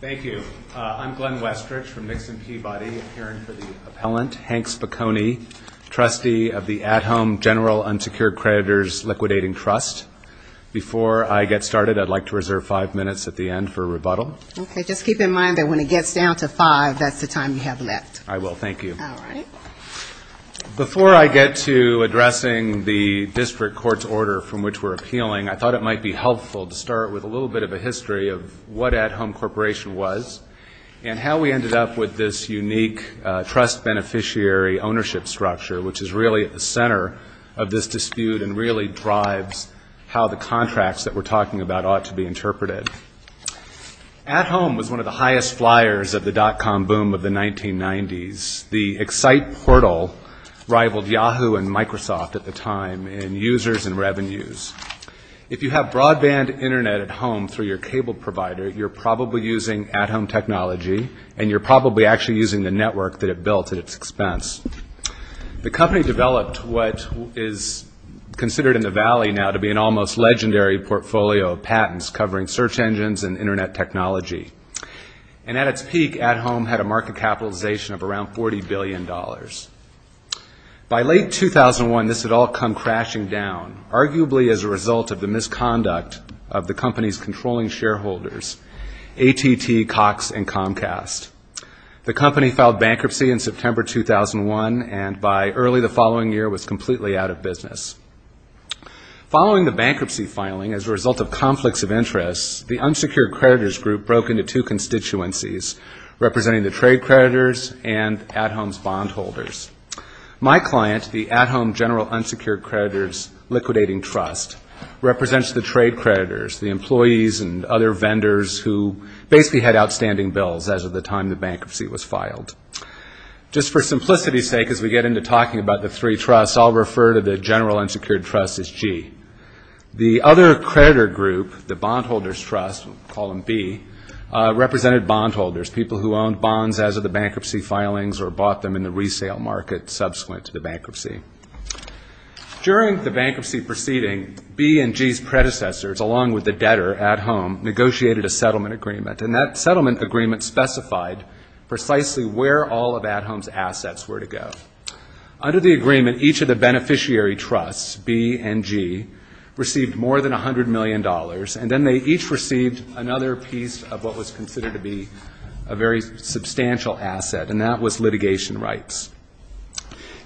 Thank you. I'm Glenn Westrich from Nixon Peabody, appearing for the appellant, Hank Spacone, trustee of the At Home General Unsecured Creditors Liquidating Trust. Before I get started, I'd like to reserve five minutes at the end for rebuttal. Okay. Just keep in mind that when it gets down to five, that's the time you have left. I will. Thank you. Before I get to addressing the district court's order from which we're appealing, I thought it might be helpful to start with a little bit of a history of what At Home Corporation was and how we ended up with this unique trust beneficiary ownership structure, which is really at the center of this dispute and really drives how the contracts that we're talking about ought to be interpreted. At Home was one of the highest flyers of the dot-com boom of the 1990s. The Excite portal rivaled Yahoo and Microsoft at the time in users and revenues. If you have broadband Internet at home through your cable provider, you're probably using at-home technology and you're probably actually using the network that it built at its expense. The company developed what is considered in the valley now to be an almost legendary portfolio of patents covering search engines and Internet technology. And at its peak, At Home had a market capitalization of around $40 billion. By late 2001, this had all come crashing down, arguably as a result of the misconduct of the company's controlling shareholders, AT&T, Cox, and Comcast. The company filed bankruptcy in September 2001 and by early the following year was completely out of business. Following the bankruptcy filing as a result of conflicts of interest, the unsecured creditors group broke into two constituencies representing the trade creditors and At Home's bondholders. My client, the At Home General Unsecured Creditors Liquidating Trust, represents the trade creditors, the employees and other vendors who basically had outstanding bills as of the time the bankruptcy was filed. Just for simplicity's sake, as we get into talking about the three trusts, I'll refer to the General Unsecured Trust as G. The other creditor group, the Bondholders Trust, we'll call them B, represented bondholders, people who owned bonds as of the bankruptcy filings or bought them in the resale market subsequent to the bankruptcy. During the bankruptcy proceeding, B and G's predecessors, along with the debtor, At Home, negotiated a settlement agreement, and that settlement agreement specified precisely where all of At Home's assets were to go. Under the agreement, each of the beneficiary trusts, B and G, received more than $100 million, and then they each received another piece of what was considered to be a very substantial asset, and that was litigation rights.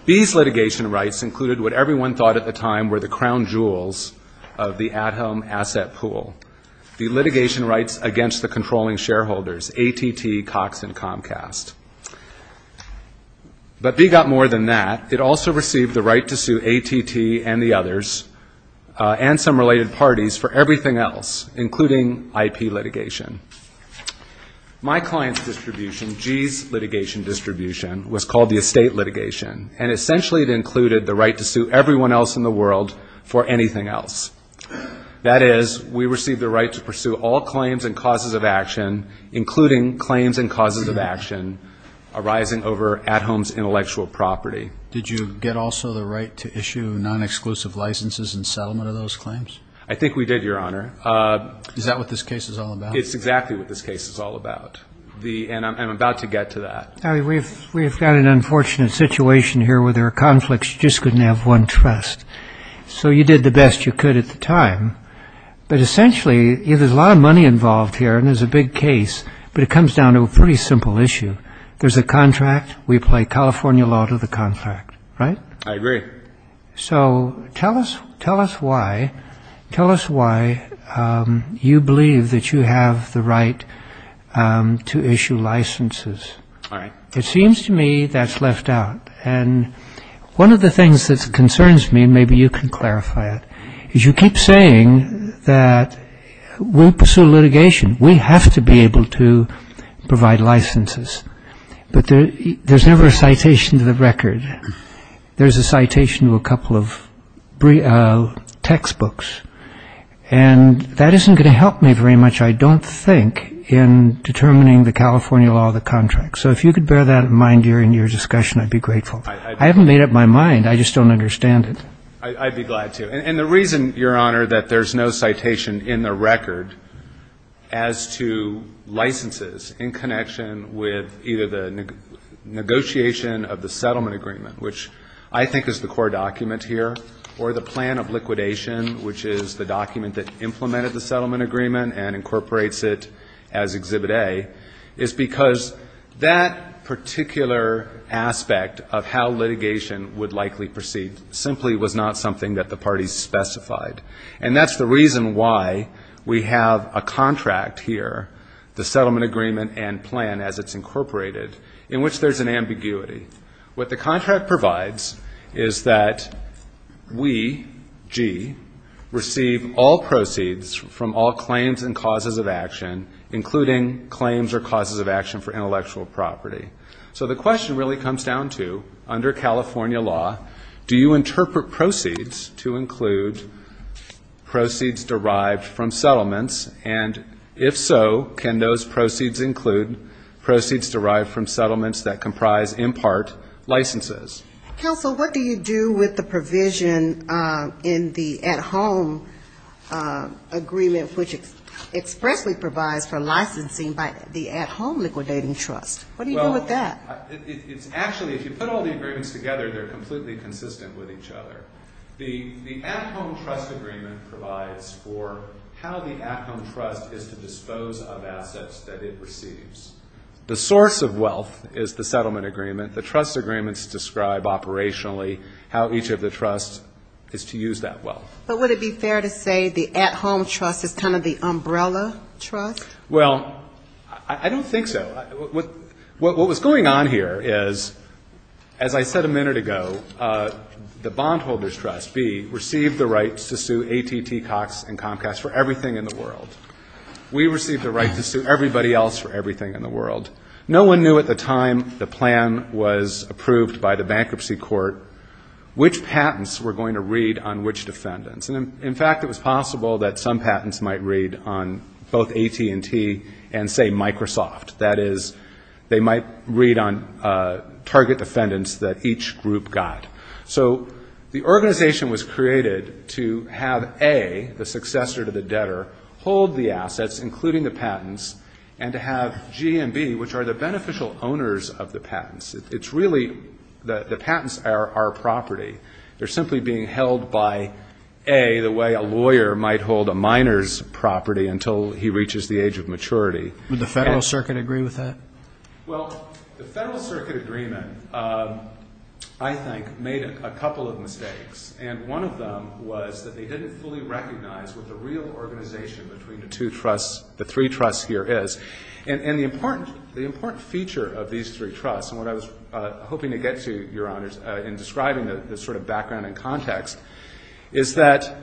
These litigation rights included what everyone thought at the time were the crown jewels of the At Home asset pool, the litigation rights against the controlling shareholders, ATT, Cox, and Comcast. But B got more than that. It also received the right to sue ATT and the others and some related parties for everything else, including IP litigation. My client's distribution, G's litigation distribution, was called the estate litigation, and essentially it included the right to sue everyone else in the world for anything else. That is, we received the right to pursue all claims and causes of action, including claims and causes of action arising over At Home's intellectual property. Did you get also the right to issue non-exclusive licenses and settlement of those claims? I think we did, Your Honor. Is that what this case is all about? It's exactly what this case is all about, and I'm about to get to that. We've got an unfortunate situation here where there are conflicts. You just couldn't have one trust, so you did the best you could at the time. But essentially, there's a lot of money involved here, and it's a big case, but it comes down to a pretty simple issue. There's a contract. We apply California law to the contract, right? I agree. So tell us why you believe that you have the right to issue licenses. It seems to me that's left out, and one of the things that concerns me, and maybe you can clarify it, is you keep saying that we pursue litigation. We have to be able to provide licenses, but there's never a citation to the record. There's a citation to a couple of textbooks, and that isn't going to help me very much, I don't think, in determining the California law of the contract. So if you could bear that in mind during your discussion, I'd be grateful. I haven't made up my mind. I just don't understand it. I'd be glad to. And the reason, Your Honor, that there's no citation in the record as to licenses in connection with either the negotiation of the settlement agreement, which I think is the core document here, or the plan of liquidation, which is the document that implemented the settlement agreement and incorporates it as Exhibit A, is because that particular aspect of how litigation would likely proceed simply was not something that the parties specified. And that's the reason why we have a contract here, the settlement agreement and plan as it's incorporated, in which there's an ambiguity. What the contract provides is that we, G, receive all proceeds from all claims and causes of action, including claims or causes of action for intellectual property. So the question really comes down to, under California law, do you interpret proceeds to include proceeds derived from settlements? And if so, can those proceeds include proceeds derived from settlements that comprise, in part, licenses? Counsel, what do you do with the provision in the at-home agreement, which expressly provides for licensing by the at-home liquidating trust? What do you do with that? Well, it's actually, if you put all the agreements together, they're completely consistent with each other. The at-home trust agreement provides for how the at-home trust is to dispose of assets that it receives. The source of wealth is the settlement agreement. The trust agreements describe operationally how each of the trusts is to use that wealth. But would it be fair to say the at-home trust is kind of the umbrella trust? Well, I don't think so. What was going on here is, as I said a minute ago, the bondholders' trust, B, received the rights to sue AT&T, Cox and Comcast for everything in the world. We received the right to sue everybody else for everything in the world. No one knew at the time the plan was approved by the bankruptcy court, which patents were going to read on which defendants. And, in fact, it was possible that some patents might read on both AT&T and, say, Microsoft. That is, they might read on target defendants that each group got. So the organization was created to have A, the successor to the debtor, hold the assets, including the patents, and to have G and B, which are the beneficial owners of the patents. It's really the patents are our property. They're simply being held by A, the way a lawyer might hold a miner's property until he reaches the age of maturity. Would the Federal Circuit agree with that? Well, the Federal Circuit agreement, I think, made a couple of mistakes. And one of them was that they didn't fully recognize what the real organization between the three trusts here is. And the important feature of these three trusts, and what I was hoping to get to, Your Honors, in describing the sort of background and context, is that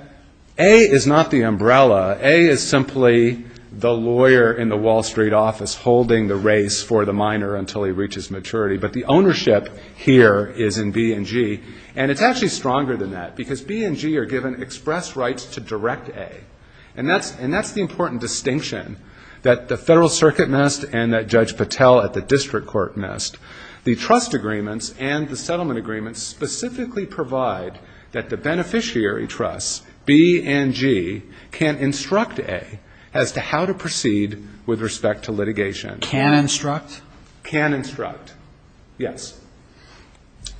A is not the umbrella. A is simply the lawyer in the Wall Street office holding the race for the miner until he reaches maturity. But the ownership here is in B and G. And it's actually stronger than that, because B and G are given express rights to direct A. And that's the important distinction that the Federal Circuit missed and that Judge Patel at the district court missed. The trust agreements and the settlement agreements specifically provide that the beneficiary trusts, B and G, instruct A as to how to proceed with respect to litigation. Can instruct? Can instruct, yes.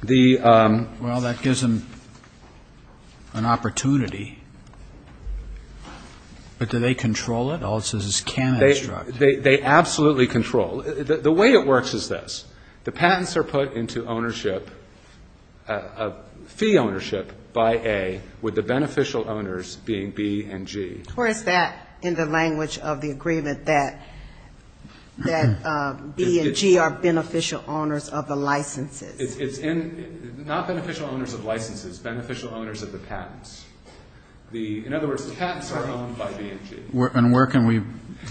Well, that gives them an opportunity. But do they control it? All it says is can instruct. They absolutely control. The way it works is this. The patents are put into ownership, fee ownership, by A, with the beneficial owners being B and G. Or is that in the language of the agreement that B and G are beneficial owners of the licenses? It's not beneficial owners of licenses. Beneficial owners of the patents. In other words, the patents are owned by B and G. And where can we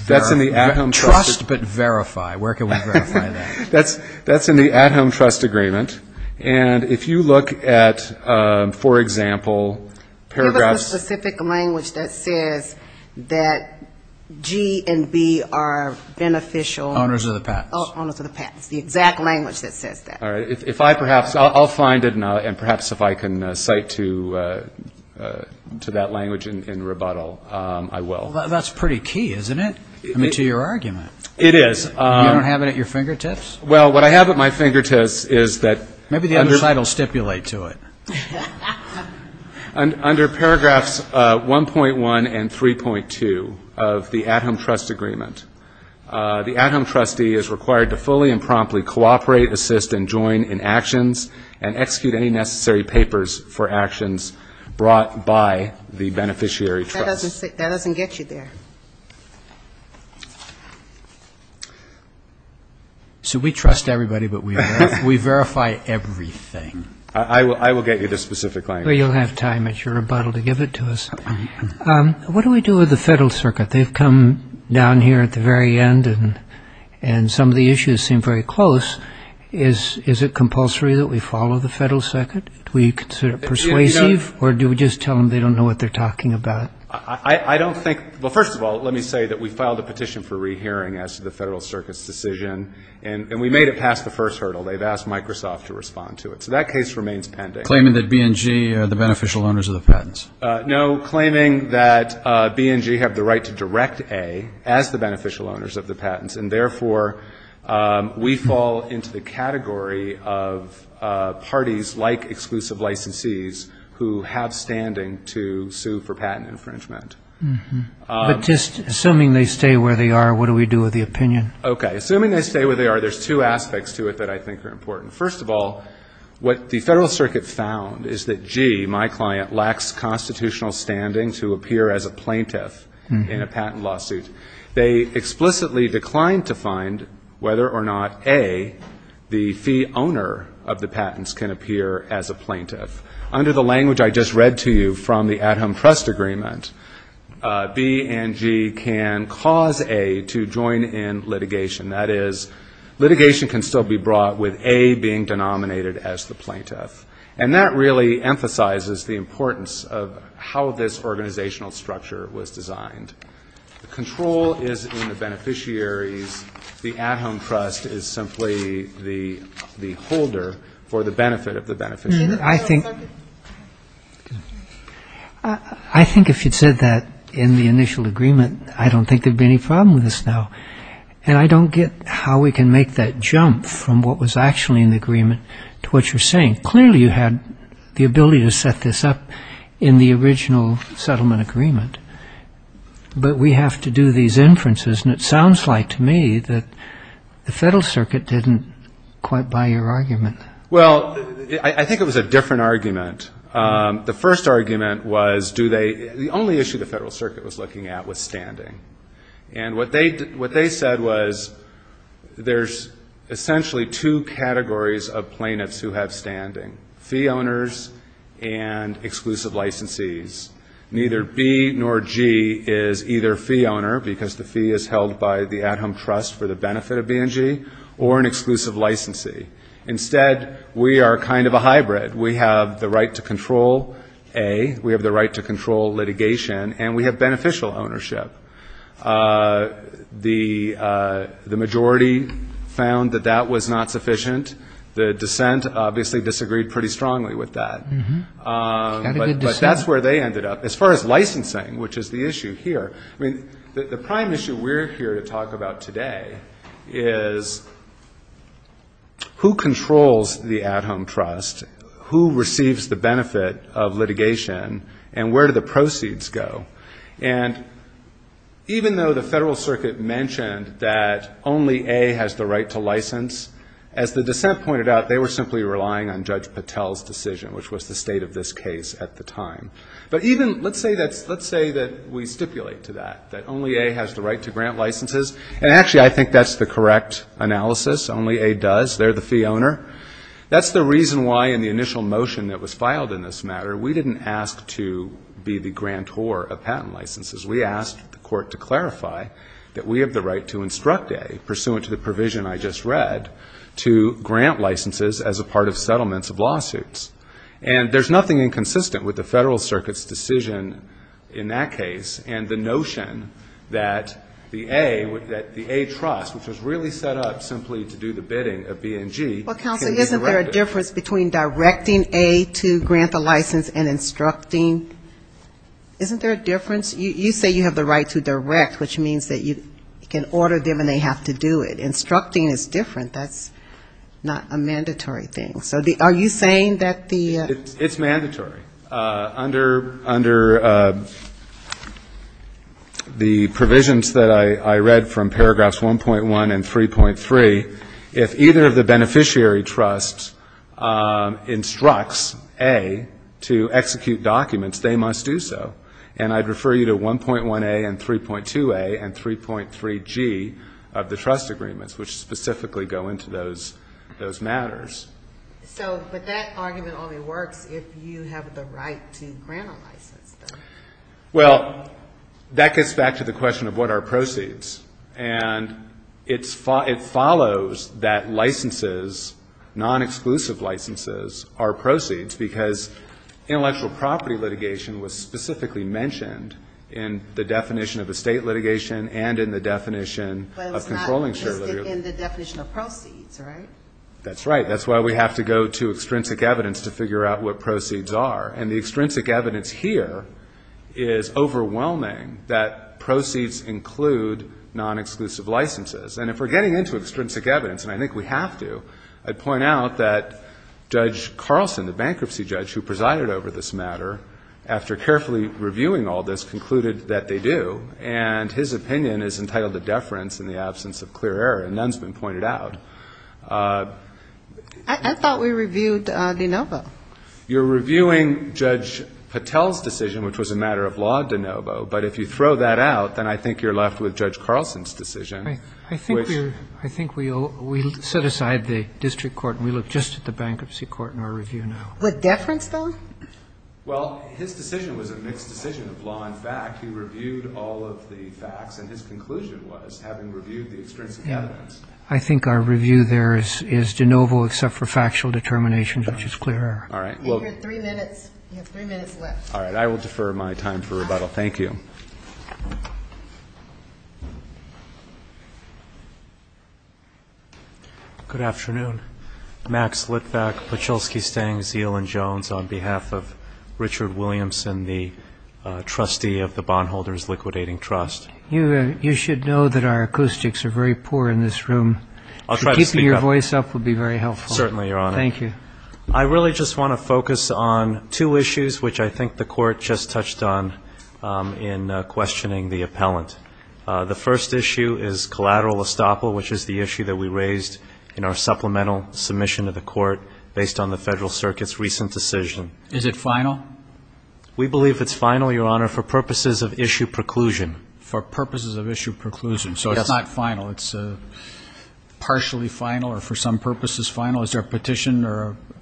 verify? Trust, but verify. Where can we verify that? That's in the at-home trust agreement. And if you look at, for example, paragraphs of the patent. Give us a specific language that says that G and B are beneficial. Owners of the patents. Owners of the patents. The exact language that says that. If I perhaps, I'll find it and perhaps if I can cite to that language in rebuttal, I will. Well, that's pretty key, isn't it? I mean, to your argument. It is. You don't have it at your fingertips? Well, what I have at my fingertips is that. Maybe the other side will stipulate to it. Under paragraphs 1.1 and 3.2 of the at-home trust agreement, the at-home trustee is required to fully and promptly cooperate, assist and join in actions and execute any necessary papers for actions brought by the beneficiary trust. That doesn't get you there. So we trust everybody, but we verify everything. I will get you the specific language. Well, you'll have time at your rebuttal to give it to us. What do we do with the Federal Circuit? They've come down here at the very end, and some of the issues seem very close. Is it compulsory that we follow the Federal Circuit? Do we consider it persuasive, or do we just tell them they don't know what they're talking about? I don't think. Well, first of all, let me say that we filed a petition for rehearing as to the Federal Circuit's decision, and we made it past the first hurdle. They've asked Microsoft to respond to it, so that case remains pending. Claiming that B&G are the beneficial owners of the patents? No, claiming that B&G have the right to direct A as the beneficial owners of the patents, and therefore we fall into the category of parties like exclusive licensees who have standing to sue for patent infringement. But just assuming they stay where they are, what do we do with the opinion? Okay. Assuming they stay where they are, there's two aspects to it that I think are important. First of all, what the Federal Circuit found is that G, my client, lacks constitutional standing to appear as a plaintiff in a patent lawsuit. They explicitly declined to find whether or not A, the fee owner of the patents, can appear as a plaintiff. Under the language I just read to you from the at-home trust agreement, B&G can cause A to join in litigation. That is, litigation can still be brought with A being denominated as the plaintiff. And that really emphasizes the importance of how this organizational structure was designed. The control is in the beneficiaries. The at-home trust is simply the holder for the benefit of the beneficiaries. I think if you'd said that in the initial agreement, I don't think there'd be any problem with this now. And I don't get how we can make that jump from what was actually in the agreement to what you're saying. Clearly you had the ability to set this up in the original settlement agreement. But we have to do these inferences, and it sounds like to me that the Federal Circuit didn't quite buy your argument. Well, I think it was a different argument. The first argument was do they the only issue the Federal Circuit was looking at was standing. And what they said was there's essentially two categories of plaintiffs who have standing, fee owners and exclusive licensees. Neither B nor G is either fee owner, because the fee is held by the at-home trust for the benefit of B&G, or an exclusive licensee. Instead, we are kind of a hybrid. We have the right to control A, we have the right to control litigation, and we have beneficial ownership. The majority found that that was not sufficient. The dissent obviously disagreed pretty strongly with that. But that's where they ended up. As far as licensing, which is the issue here, I mean, the prime issue we're here to talk about today is who is the beneficiary. Who controls the at-home trust? Who receives the benefit of litigation? And where do the proceeds go? And even though the Federal Circuit mentioned that only A has the right to license, as the dissent pointed out, they were simply relying on Judge Patel's decision, which was the state of this case at the time. But even, let's say that we stipulate to that, that only A has the right to grant licenses. And actually, I think that's the correct analysis. Only A does. They're the fee owner. That's the reason why, in the initial motion that was filed in this matter, we didn't ask to be the grantor of patent licenses. We asked the court to clarify that we have the right to instruct A, pursuant to the provision I just read, to grant licenses as a part of settlements of lawsuits. And there's nothing inconsistent with the Federal Circuit's decision in that case, and the notion that the A, that the A trust, which was really set up simply to disqualify the beneficiary, to do the bidding of B and G, can be directed. Well, counsel, isn't there a difference between directing A to grant the license and instructing? Isn't there a difference? You say you have the right to direct, which means that you can order them and they have to do it. Instructing is different. That's not a mandatory thing. So are you saying that the ---- It's mandatory. Under the provisions that I read from paragraphs 1.1 and 3.3, if either of the beneficiary trusts instructs A to execute documents, they must do so. And I'd refer you to 1.1A and 3.2A and 3.3G of the trust agreements, which specifically go into those matters. So, but that argument only works if you have the right to grant a license, though. Well, that gets back to the question of what are proceeds. And it follows that licenses, non-exclusive licenses, are proceeds, because intellectual property litigation was specifically mentioned in the definition of estate litigation and in the definition of controlling surety. But it was not listed in the definition of proceeds, right? That's right. That's why we have to go to extrinsic evidence to figure out what proceeds are. And the extrinsic evidence here is overwhelming, that proceeds include non-exclusive licenses. And if we're getting into extrinsic evidence, and I think we have to, I'd point out that Judge Carlson, the bankruptcy judge who presided over this matter, after carefully reviewing all this, concluded that they do. And his opinion is entitled to deference in the absence of clear error. And none has been pointed out. I thought we reviewed de novo. You're reviewing Judge Patel's decision, which was a matter of law de novo. But if you throw that out, then I think you're left with Judge Carlson's decision. I think we set aside the district court and we look just at the bankruptcy court in our review now. With deference, though? Well, his decision was a mixed decision of law and fact. He reviewed all of the facts, and his conclusion was, having reviewed the extrinsic evidence. I think our review there is de novo except for factual determinations, which is clear error. And you have three minutes left. All right. I will defer my time for rebuttal. Thank you. Good afternoon. Max Litvack, Pachulski, Stang, Zeal, and Jones, on behalf of Richard Williamson, the trustee of the Bar Association. You should know that our acoustics are very poor in this room. Keeping your voice up would be very helpful. Certainly, Your Honor. Thank you. I really just want to focus on two issues, which I think the Court just touched on in questioning the appellant. The first issue is collateral estoppel, which is the issue that we raised in our supplemental submission to the Court based on the Federal Circuit's recent decision. Is it final? We believe it's final, Your Honor, for purposes of issue preclusion. For purposes of issue preclusion. Yes. So it's not final. It's partially final or for some purposes final. Is there a petition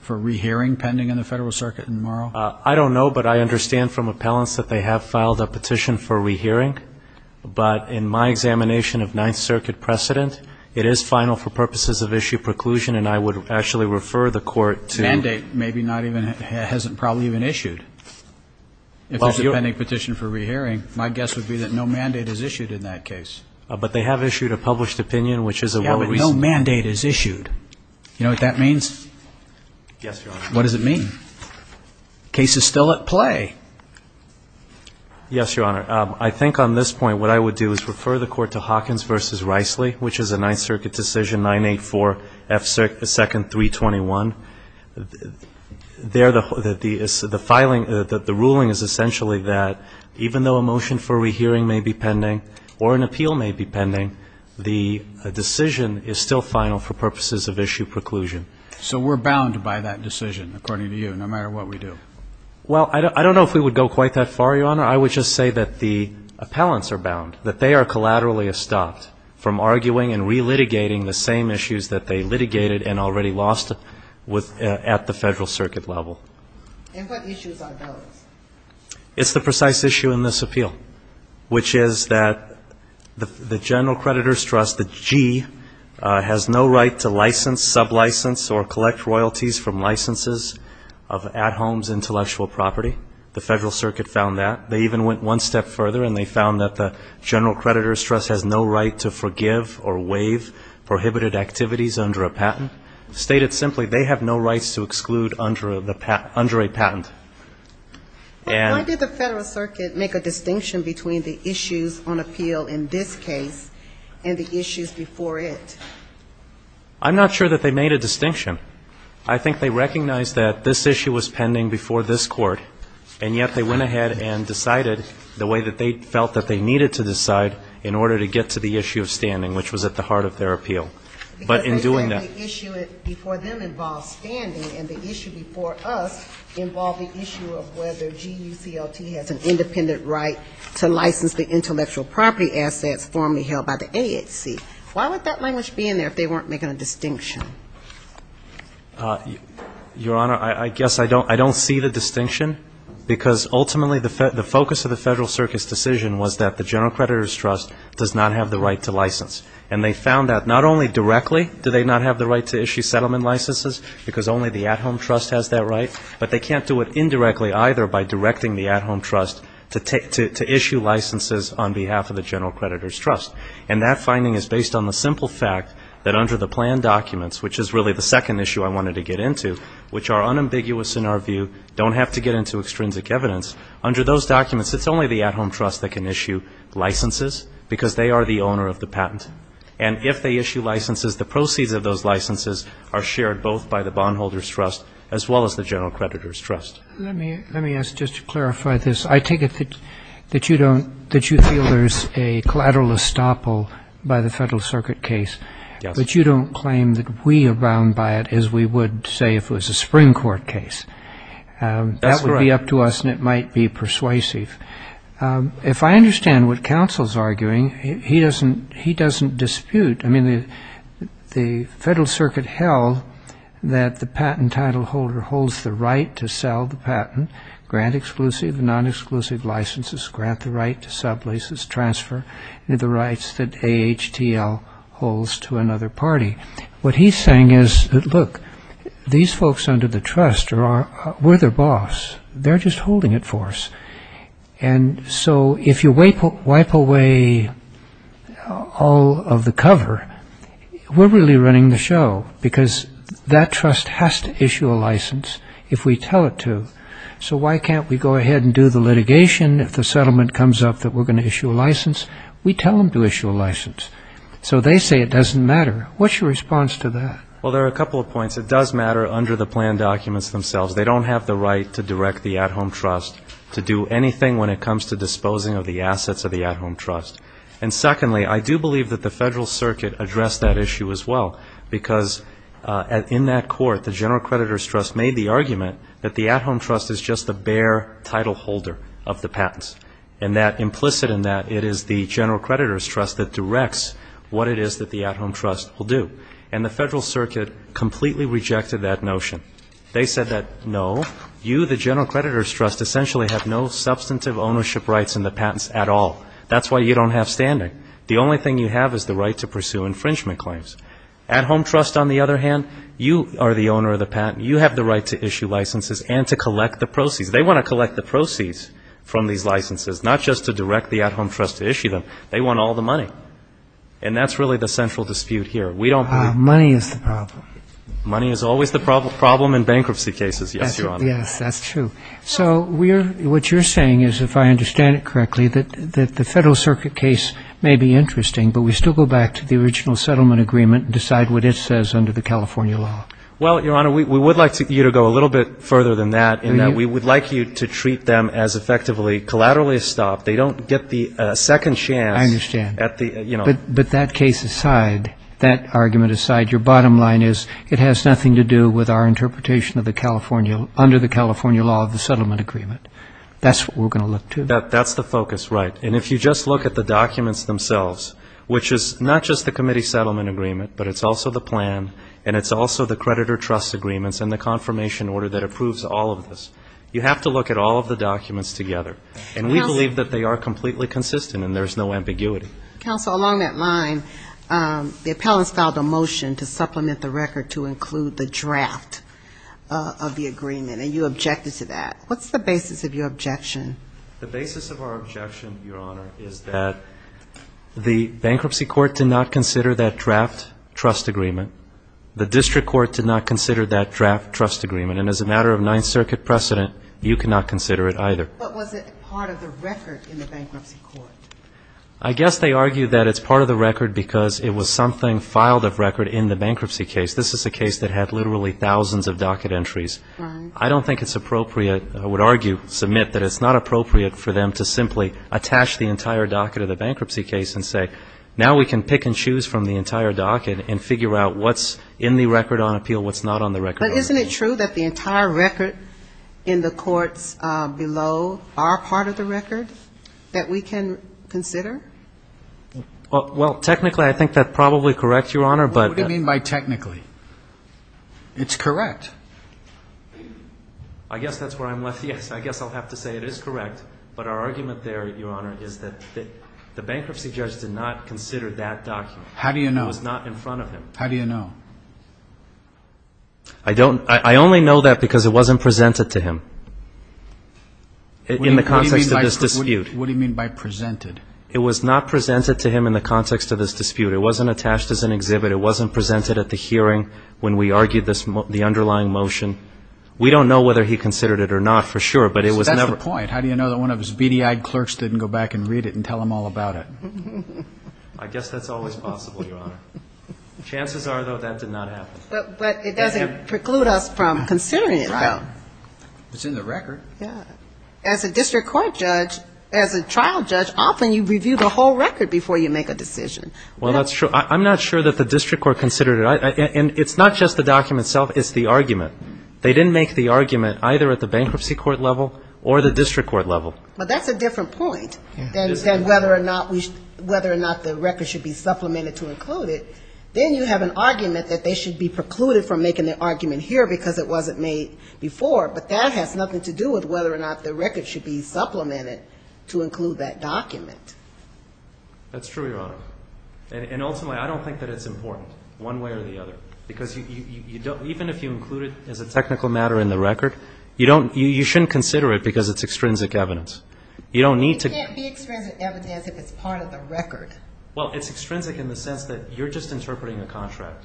for re-hearing pending in the Federal Circuit tomorrow? I don't know, but I understand from appellants that they have filed a petition for re-hearing. But in my examination of Ninth Circuit precedent, it is final for purposes of issue preclusion, and I would actually refer the Court to. Well, if there's a mandate, maybe not even, hasn't probably even issued. If there's a pending petition for re-hearing, my guess would be that no mandate is issued in that case. But they have issued a published opinion, which is a well-reasoned. Yeah, but no mandate is issued. You know what that means? Yes, Your Honor. What does it mean? Case is still at play. Yes, Your Honor. I think on this point, what I would do is refer the Court to Hawkins v. Riceley, which is a Ninth Circuit decision, 984 F. 2nd. 321. The ruling is essentially that even though a motion for re-hearing may be pending or an appeal may be pending, the decision is still final for purposes of issue preclusion. So we're bound by that decision, according to you, no matter what we do? Well, I don't know if we would go quite that far, Your Honor. I would just say that the appellants are bound, that they are collaterally stopped from arguing and re-litigating the same issues that they litigated and already lost at the Federal Court. And what issues are those? It's the precise issue in this appeal, which is that the General Creditor's Trust, the G, has no right to license, sub-license or collect royalties from licenses of at-homes intellectual property. The Federal Circuit found that. They even went one step further, and they found that the General Creditor's Trust has no right to forgive or waive prohibited activities under a patent. Stated simply, they have no rights to exclude under a patent. Why did the Federal Circuit make a distinction between the issues on appeal in this case and the issues before it? I'm not sure that they made a distinction. I think they recognized that this issue was pending before this Court, and yet they went ahead and decided the way that they felt that they needed to decide in order to get to the issue of standing, which was at the heart of their appeal. Because they said the issue before them involved standing, and the issue before us involved the issue of whether GUCLT has an independent right to license the intellectual property assets formally held by the AHC. Why would that language be in there if they weren't making a distinction? Your Honor, I guess I don't see the distinction, because ultimately the focus of the Federal Circuit's decision was that the General Creditor's Trust does not have the right to license. And they found that not only directly do they not have the right to issue settlement licenses, because only the at-home trust has that right, but they can't do it indirectly either by directing the at-home trust to issue licenses on behalf of the General Creditor's Trust. And that finding is based on the simple fact that under the plan documents, which is really the second issue I wanted to get into, which are unambiguous in our view, don't have to get into extrinsic evidence, under those documents, it's only the at-home trust that can issue licenses, because they are the owner of the patent. And if they issue licenses, the proceeds of those licenses are shared both by the bondholder's trust as well as the General Creditor's Trust. Let me ask, just to clarify this, I take it that you don't, that you feel there's a collateral estoppel by the Federal Circuit case, but you don't claim that we abound by it as we would, say, if it was a Supreme Court case. That would be up to us, and it might be persuasive. If I understand what Counsel's arguing, he doesn't dispute, I mean, the Federal Circuit held that the patent title holder holds the right to sell the patent, grant exclusive and non-exclusive licenses, grant the right to sub-licenses, transfer the rights that AHTL holds to another party. What he's saying is that, look, these folks under the trust were their boss. They're just holding it for us, and so if you wipe away all of the cover, we're really running the show, because that trust has to issue a license if we tell it to. So why can't we go ahead and do the litigation, if the settlement comes up that we're going to issue a license, we tell them to issue a license. So they say it doesn't matter. I don't expect the at-home trust to do anything when it comes to disposing of the assets of the at-home trust. And secondly, I do believe that the Federal Circuit addressed that issue as well, because in that court, the general creditor's trust made the argument that the at-home trust is just the bare title holder of the patents, and that implicit in that, it is the general creditor's trust that directs what it is that the at-home trust will do. And the Federal Circuit completely rejected that notion. They said that, no, you, the general creditor's trust, essentially have no substantive ownership rights in the patents at all. That's why you don't have standing. The only thing you have is the right to pursue infringement claims. At-home trust, on the other hand, you are the owner of the patent, you have the right to issue licenses and to collect the proceeds. They want to collect the proceeds from these licenses, not just to direct the at-home trust to issue them. They want all the money. And that's really the central dispute here. We don't believe that. Money is the problem. Money is always the problem in bankruptcy cases, yes, Your Honor. Yes, that's true. So what you're saying is, if I understand it correctly, that the Federal Circuit case may be interesting, but we still go back to the original settlement agreement and decide what it says under the California law. Well, Your Honor, we would like you to go a little bit further than that, in that we would like you to treat them as effectively collaterally stopped. They don't get the second chance at the, you know. I understand. But that case aside, that argument aside, your bottom line is it has nothing to do with our interpretation of the California, under the California law of the settlement agreement. That's what we're going to look to. That's the focus, right. And if you just look at the documents themselves, which is not just the committee settlement agreement, but it's also the plan, and it's also the creditor trust agreements and the confirmation order that approves all of this. You have to look at all of the documents together. And we believe that they are completely consistent and there's no ambiguity. Counsel, along that line, the appellants filed a motion to supplement the record to include the draft of the agreement. And you objected to that. What's the basis of your objection? The basis of our objection, Your Honor, is that the bankruptcy court did not consider that draft trust agreement. The district court did not consider that draft trust agreement. And as a matter of Ninth Circuit precedent, you cannot consider it either. But was it part of the record in the bankruptcy court? I guess they argue that it's part of the record because it was something filed of record in the bankruptcy case. This is a case that had literally thousands of docket entries. I don't think it's appropriate, I would argue, submit that it's not appropriate for them to simply attach the entire docket of the bankruptcy case and say, now we can pick and choose from the entire docket and figure out what's in the record on appeal, what's not on the record on appeal. But isn't it true that the entire record in the courts below are part of the record that we can consider? Well, technically, I think that's probably correct, Your Honor. What do you mean by technically? It's correct. I guess that's where I'm left. Yes, I guess I'll have to say it is correct, but our argument there, Your Honor, is that the bankruptcy judge did not consider that document. How do you know? It was not in front of him. How do you know? I only know that because it wasn't presented to him in the context of this dispute. What do you mean by presented? It was not presented to him in the context of this dispute. It wasn't attached as an exhibit. It wasn't presented at the hearing when we argued the underlying motion. We don't know whether he considered it or not for sure, but it was never. That's the point. How do you know that one of his beady-eyed clerks didn't go back and read it and tell him all about it? I guess that's always possible, Your Honor. Chances are, though, that did not happen. But it doesn't preclude us from considering it, though. It's in the record. As a district court judge, as a trial judge, often you review the whole record before you make a decision. Well, that's true. I'm not sure that the district court considered it. And it's not just the document itself. It's the argument. They didn't make the argument either at the bankruptcy court level or the district court level. But that's a different point than whether or not the record should be supplemented to include it. Then you have an argument that they should be precluded from making their argument here because it wasn't made before. But that has nothing to do with whether or not the record should be supplemented to include that document. That's true, Your Honor. And ultimately, I don't think that it's important, one way or the other. Because even if you include it as a technical matter in the record, you shouldn't consider it because it's extrinsic evidence. You don't need to... It can't be extrinsic evidence if it's part of the record. Well, it's extrinsic in the sense that you're just interpreting a contract.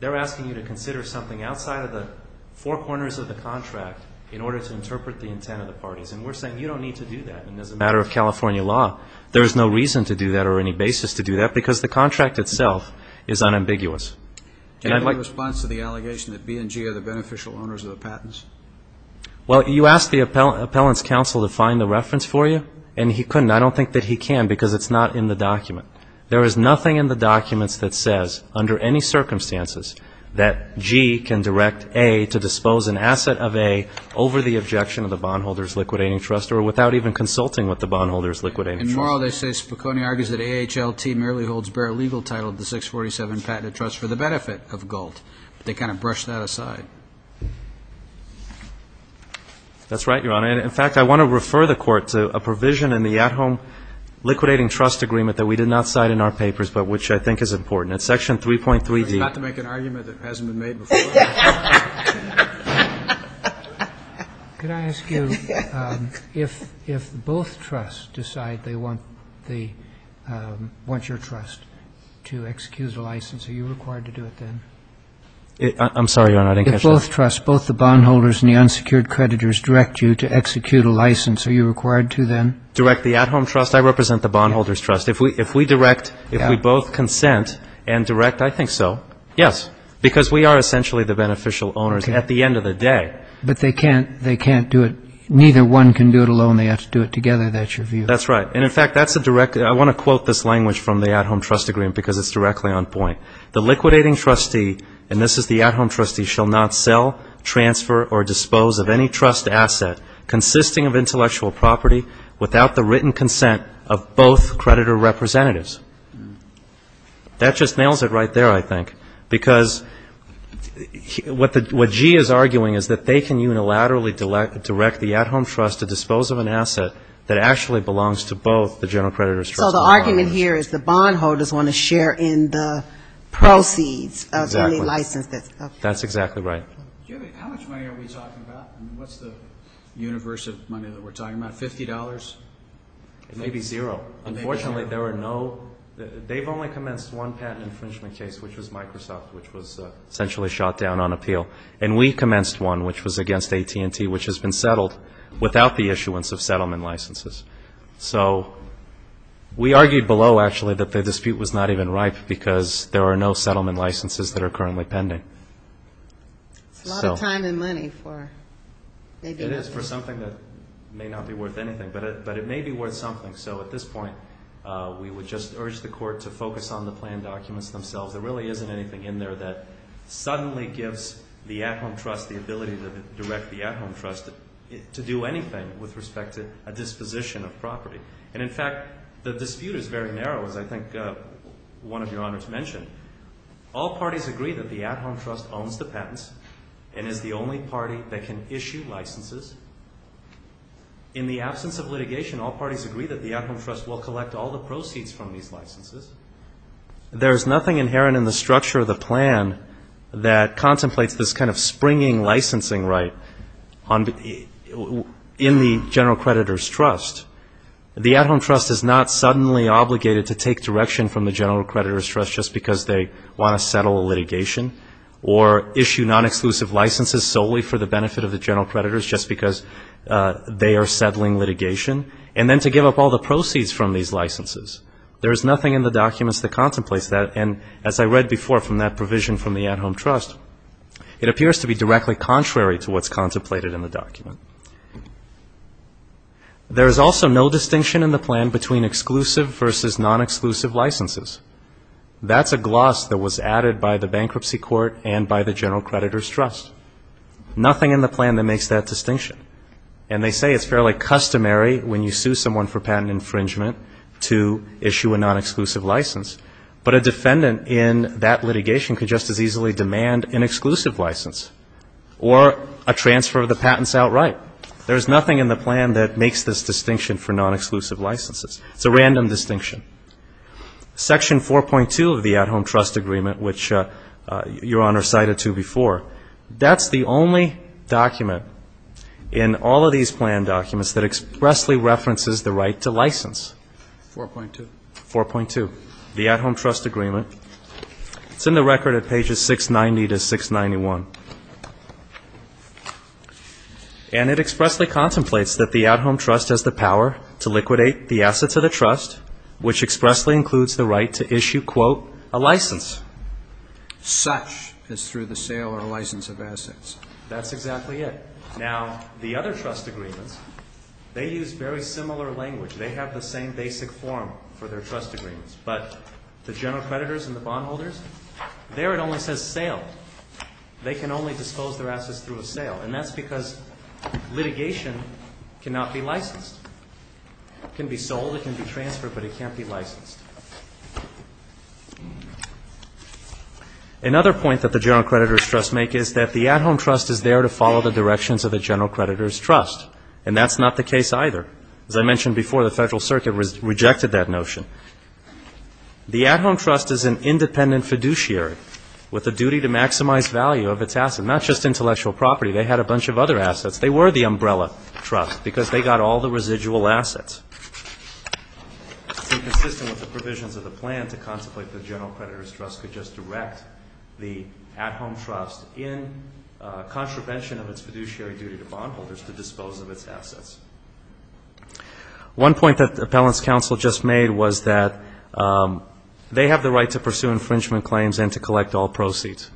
They're asking you to consider something outside of the four corners of the contract. In order to interpret the intent of the parties. And we're saying you don't need to do that. And as a matter of California law, there is no reason to do that or any basis to do that because the contract itself is unambiguous. Do you have any response to the allegation that B and G are the beneficial owners of the patents? Well, you ask the appellants' counsel to find the reference for you, and he couldn't. I don't think that he can because it's not in the document. There is nothing in the documents that says, under any circumstances, that G can direct A to dispose an asset of A, over the objection of the bondholder's liquidating trust or without even consulting with the bondholder's liquidating trust. And more, they say Spicone argues that AHLT merely holds bare legal title of the 647 patented trust for the benefit of GALT. They kind of brush that aside. That's right, Your Honor. In fact, I want to refer the Court to a provision in the at-home liquidating trust agreement that we did not cite in our papers, but which I think is important. It's section 3.3D. It's not to make an argument that hasn't been made before. Could I ask you, if both trusts decide they want your trust to execute a license, are you required to do it then? I'm sorry, Your Honor, I didn't catch that. If both trusts, both the bondholders and the unsecured creditors, direct you to execute a license, are you required to then? Direct the at-home trust? I represent the bondholders' trust. If we direct, if we both consent and direct, I think so, yes, because we are essentially the beneficial owners at the end of the day. But they can't do it, neither one can do it alone. They have to do it together. That's your view? That's right. And in fact, that's a direct, I want to quote this language from the at-home trust agreement because it's directly on point. That just nails it right there, I think. Because what G is arguing is that they can unilaterally direct the at-home trust to dispose of an asset that actually belongs to both the general creditors' trust and the bondholders' trust. So the argument here is the bondholders want to share in the proceeds of the license. That's exactly right. How much money are we talking about? What's the universe of money that we're talking about? $50? Maybe zero. Unfortunately, they've only commenced one patent infringement case, which was Microsoft, which was essentially shot down on appeal. And we commenced one, which was against AT&T, which has been settled without the issuance of settlement licenses. So we argued below, actually, that the dispute was not even ripe because there are no settlement licenses that are currently pending. It's a lot of time and money for maybe nothing. It is for something that may not be worth anything, but it may be worth something. So at this point, we would just urge the court to focus on the plan documents themselves. There really isn't anything in there that suddenly gives the at-home trust the ability to direct the at-home trust to do anything with respect to a disposition of property. And in fact, the dispute is very narrow, as I think one of your honors mentioned. All parties agree that the at-home trust owns the patents and is the only party that can issue licenses. In the absence of litigation, all parties agree that the at-home trust will collect all the proceeds from these licenses. There's nothing inherent in the structure of the plan that contemplates this kind of springing licensing right in the general creditor's trust. The at-home trust is not suddenly obligated to take direction from the general creditor's trust just because there's a dispute. It's not suddenly obligated to take direction from the general creditor's trust just because they want to settle a litigation or issue non-exclusive licenses solely for the benefit of the general creditors just because they are settling litigation. And then to give up all the proceeds from these licenses. There is nothing in the documents that contemplates that. And as I read before from that provision from the at-home trust, it appears to be directly contrary to what's contemplated in the document. There is also no distinction in the plan between exclusive versus non-exclusive licenses. That's a gloss that was added by the bankruptcy court and by the general creditor's trust. Nothing in the plan that makes that distinction. And they say it's fairly customary when you sue someone for patent infringement to issue a non-exclusive license. But a defendant in that litigation could just as easily demand an exclusive license or a transfer of the patents outright. There's nothing in the plan that makes this distinction for non-exclusive licenses. It's a random distinction. Section 4.2 of the at-home trust agreement, which Your Honor cited to before, that's the only document in all of these plan documents that expressly references the right to license. 4.2. 4.2, the at-home trust agreement. It's in the record at pages 690 to 691. And it expressly contemplates that the at-home trust has the power to liquidate the assets of the trust, which expressly includes the right to issue, quote, a license. Such as through the sale or license of assets. That's exactly it. Now, the other trust agreements, they use very similar language. They have the same basic form for their trust agreements. But the general creditors and the bondholders, there it only says sale. They can only dispose their assets through a sale. And that's because litigation cannot be licensed. It can be sold. It can be transferred. But it can't be licensed. Another point that the general creditors' trust make is that the at-home trust is there to follow the directions of the general creditors' trust. And that's not the case either. As I mentioned before, the Federal Circuit rejected that notion. The at-home trust is an independent fiduciary with a duty to maximize value of its assets. Not just intellectual property. They had a bunch of other assets. They were the umbrella trust because they got all the residual assets. It's inconsistent with the provisions of the plan to contemplate that the general creditors' trust could just direct the at-home trust in contravention of its fiduciary duty to bondholders to dispose of its assets. One point that the appellant's counsel just made was that they have the right to pursue infringement claims and to collect all proceeds.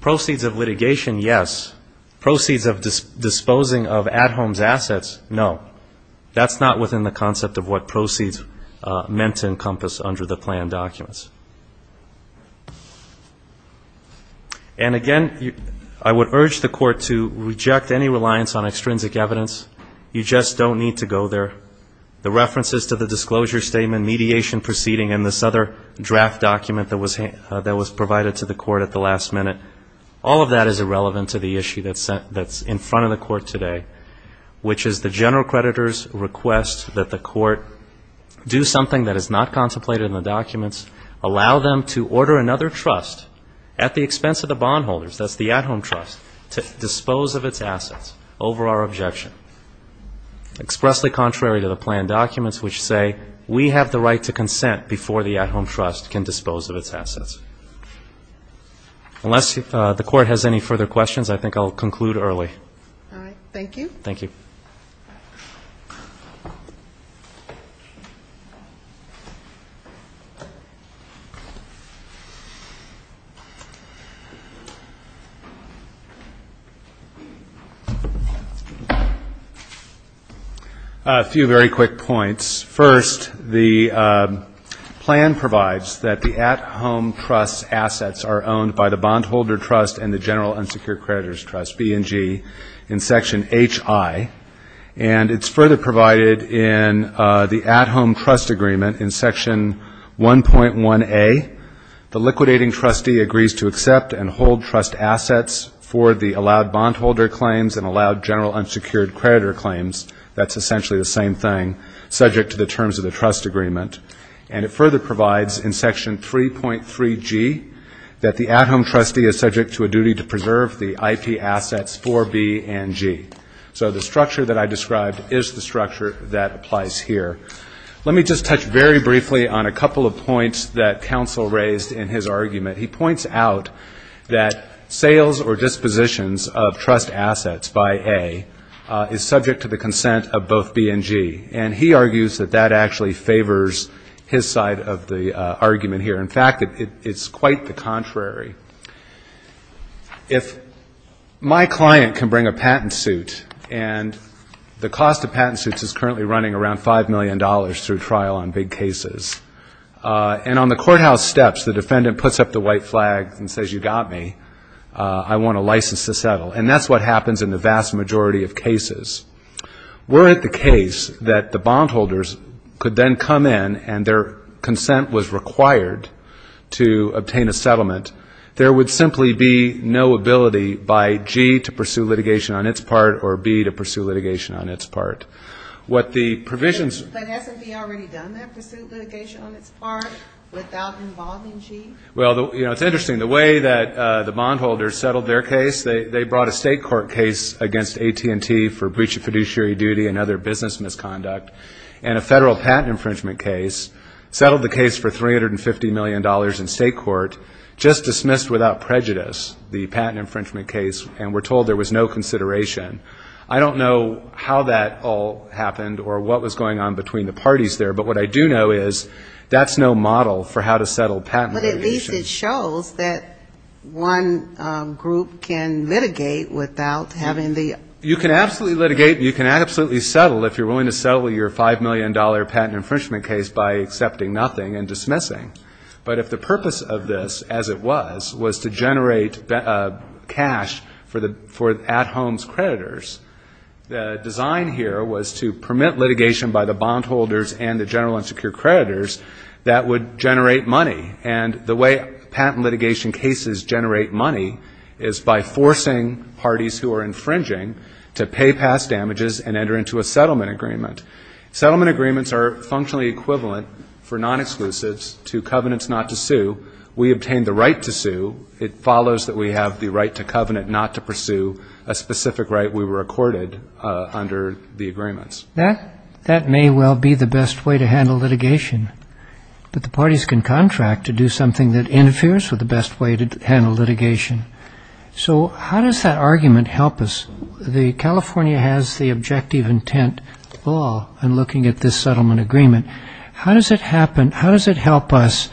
Proceeds of litigation, yes. Proceeds of disposing of at-home's assets, no. That's not within the concept of what proceeds meant to encompass under the plan documents. And, again, I would urge the Court to reject any reliance on extrinsic evidence. You just don't need to go there. The references to the disclosure statement, mediation proceeding, and this other draft document that was provided to the Court at the last minute, all of that is irrelevant to the issue that's in front of the Court today, which is the general creditors' request that the Court do something that is not contemplated in the documents, but that is in front of the Court today. Allow them to order another trust at the expense of the bondholders, that's the at-home trust, to dispose of its assets over our objection, expressly contrary to the plan documents, which say we have the right to consent before the at-home trust can dispose of its assets. Unless the Court has any further questions, I think I'll conclude early. All right, thank you. Thank you. A few very quick points. First, the plan provides that the at-home trust's assets are owned by the bondholder trust and the general unsecured creditors' trust, B&G, in Section H.I. And it's further provided in the at-home trust agreement in Section 1.1.A, which states that the bondholders' assets are owned by the general unsecured creditors' trust, B&G. In Section 1.1.A, the liquidating trustee agrees to accept and hold trust assets for the allowed bondholder claims and allowed general unsecured creditor claims. That's essentially the same thing, subject to the terms of the trust agreement. And it further provides in Section 3.3.G that the at-home trustee is subject to a duty to preserve the IP assets for B&G. So the structure that I described is the structure that applies here. Let me just touch very briefly on a couple of points that counsel raised in his argument. He points out that sales or dispositions of trust assets by A is subject to the consent of both B&G. And he argues that that actually favors his side of the argument here. In fact, it's quite the contrary. If my client can bring a patent suit and the cost of patent suits is currently running around $5 million, that's $5 million through trial on big cases. And on the courthouse steps, the defendant puts up the white flag and says, you got me. I want a license to settle. And that's what happens in the vast majority of cases. Were it the case that the bondholders could then come in and their consent was required to obtain a settlement, there would simply be no ability by G to pursue litigation on its part or B to pursue litigation on its part. What the provisions... Well, you know, it's interesting. The way that the bondholders settled their case, they brought a state court case against AT&T for breach of fiduciary duty and other things, just dismissed without prejudice the patent infringement case, and were told there was no consideration. I don't know how that all happened or what was going on between the parties there. But what I do know is that's no model for how to settle patent litigation. But at least it shows that one group can litigate without having the... You can absolutely litigate and you can absolutely settle if you're willing to settle your $5 million patent infringement case by accepting nothing and dismissing. But if the purpose of this, as it was, was to generate cash for at-homes creditors, the design here was to permit litigation by the bondholders and the general and secure creditors that would generate money. And the way patent litigation cases generate money is by forcing parties who are infringing to pay past damages and enter into a settlement for non-exclusives to covenants not to sue. We obtain the right to sue. It follows that we have the right to covenant not to pursue a specific right we were accorded under the agreements. That may well be the best way to handle litigation. But the parties can contract to do something that interferes with the best way to handle litigation. So how does that argument help us? California has the objective intent law in looking at this settlement agreement. How does it happen, how does it help us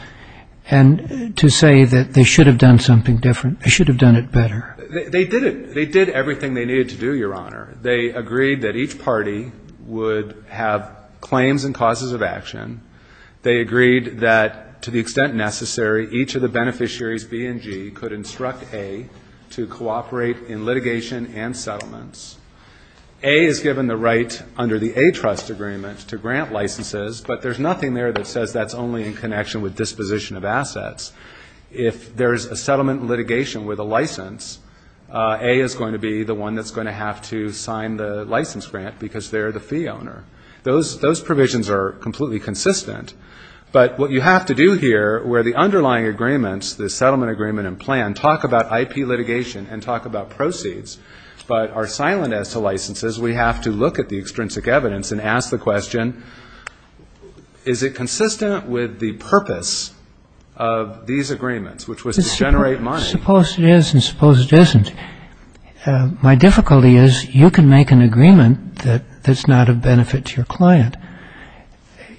to say that they should have done something different, they should have done it better? They did it. They did everything they needed to do, Your Honor. They agreed that each party would have claims and causes of action. They agreed that to the extent necessary, each of the beneficiaries, B and G, could instruct A to cooperate in litigation and settlements. A is given the right under the A trust agreement to grant licenses, but there's nothing there that says that's only in connection with the license grant because they're the fee owner. Those provisions are completely consistent, but what you have to do here, where the underlying agreements, the settlement agreement and plan, talk about IP litigation and talk about proceeds, but are silent as to licenses, we have to look at the extrinsic evidence and ask the question, is it consistent with the purpose of these agreements, which was to generate money? I suppose it is and I suppose it isn't. My difficulty is you can make an agreement that's not of benefit to your client.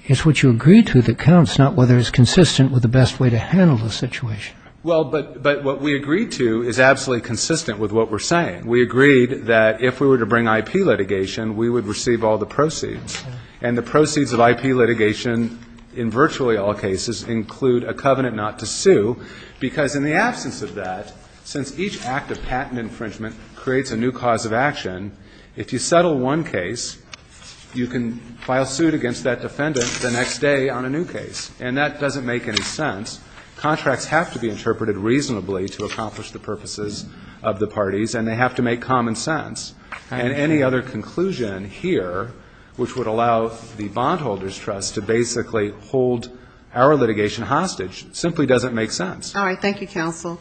It's what you agreed to that counts, not whether it's consistent with the best way to handle the situation. Well, but what we agreed to is absolutely consistent with what we're saying. We agreed that if we were to bring IP litigation, we would receive all the proceeds. And the proceeds of IP litigation in virtually all cases include a covenant not to sue, because in the absence of that, since each act of patent infringement creates a new cause of action, if you settle one case, you can file suit against that defendant the next day on a new case, and that doesn't make any sense. Contracts have to be interpreted reasonably to accomplish the purposes of the parties and they have to make common sense. And any other conclusion here, which would allow the bondholders' trust to basically hold our litigation hostage, simply doesn't make sense. All right. Thank you, counsel.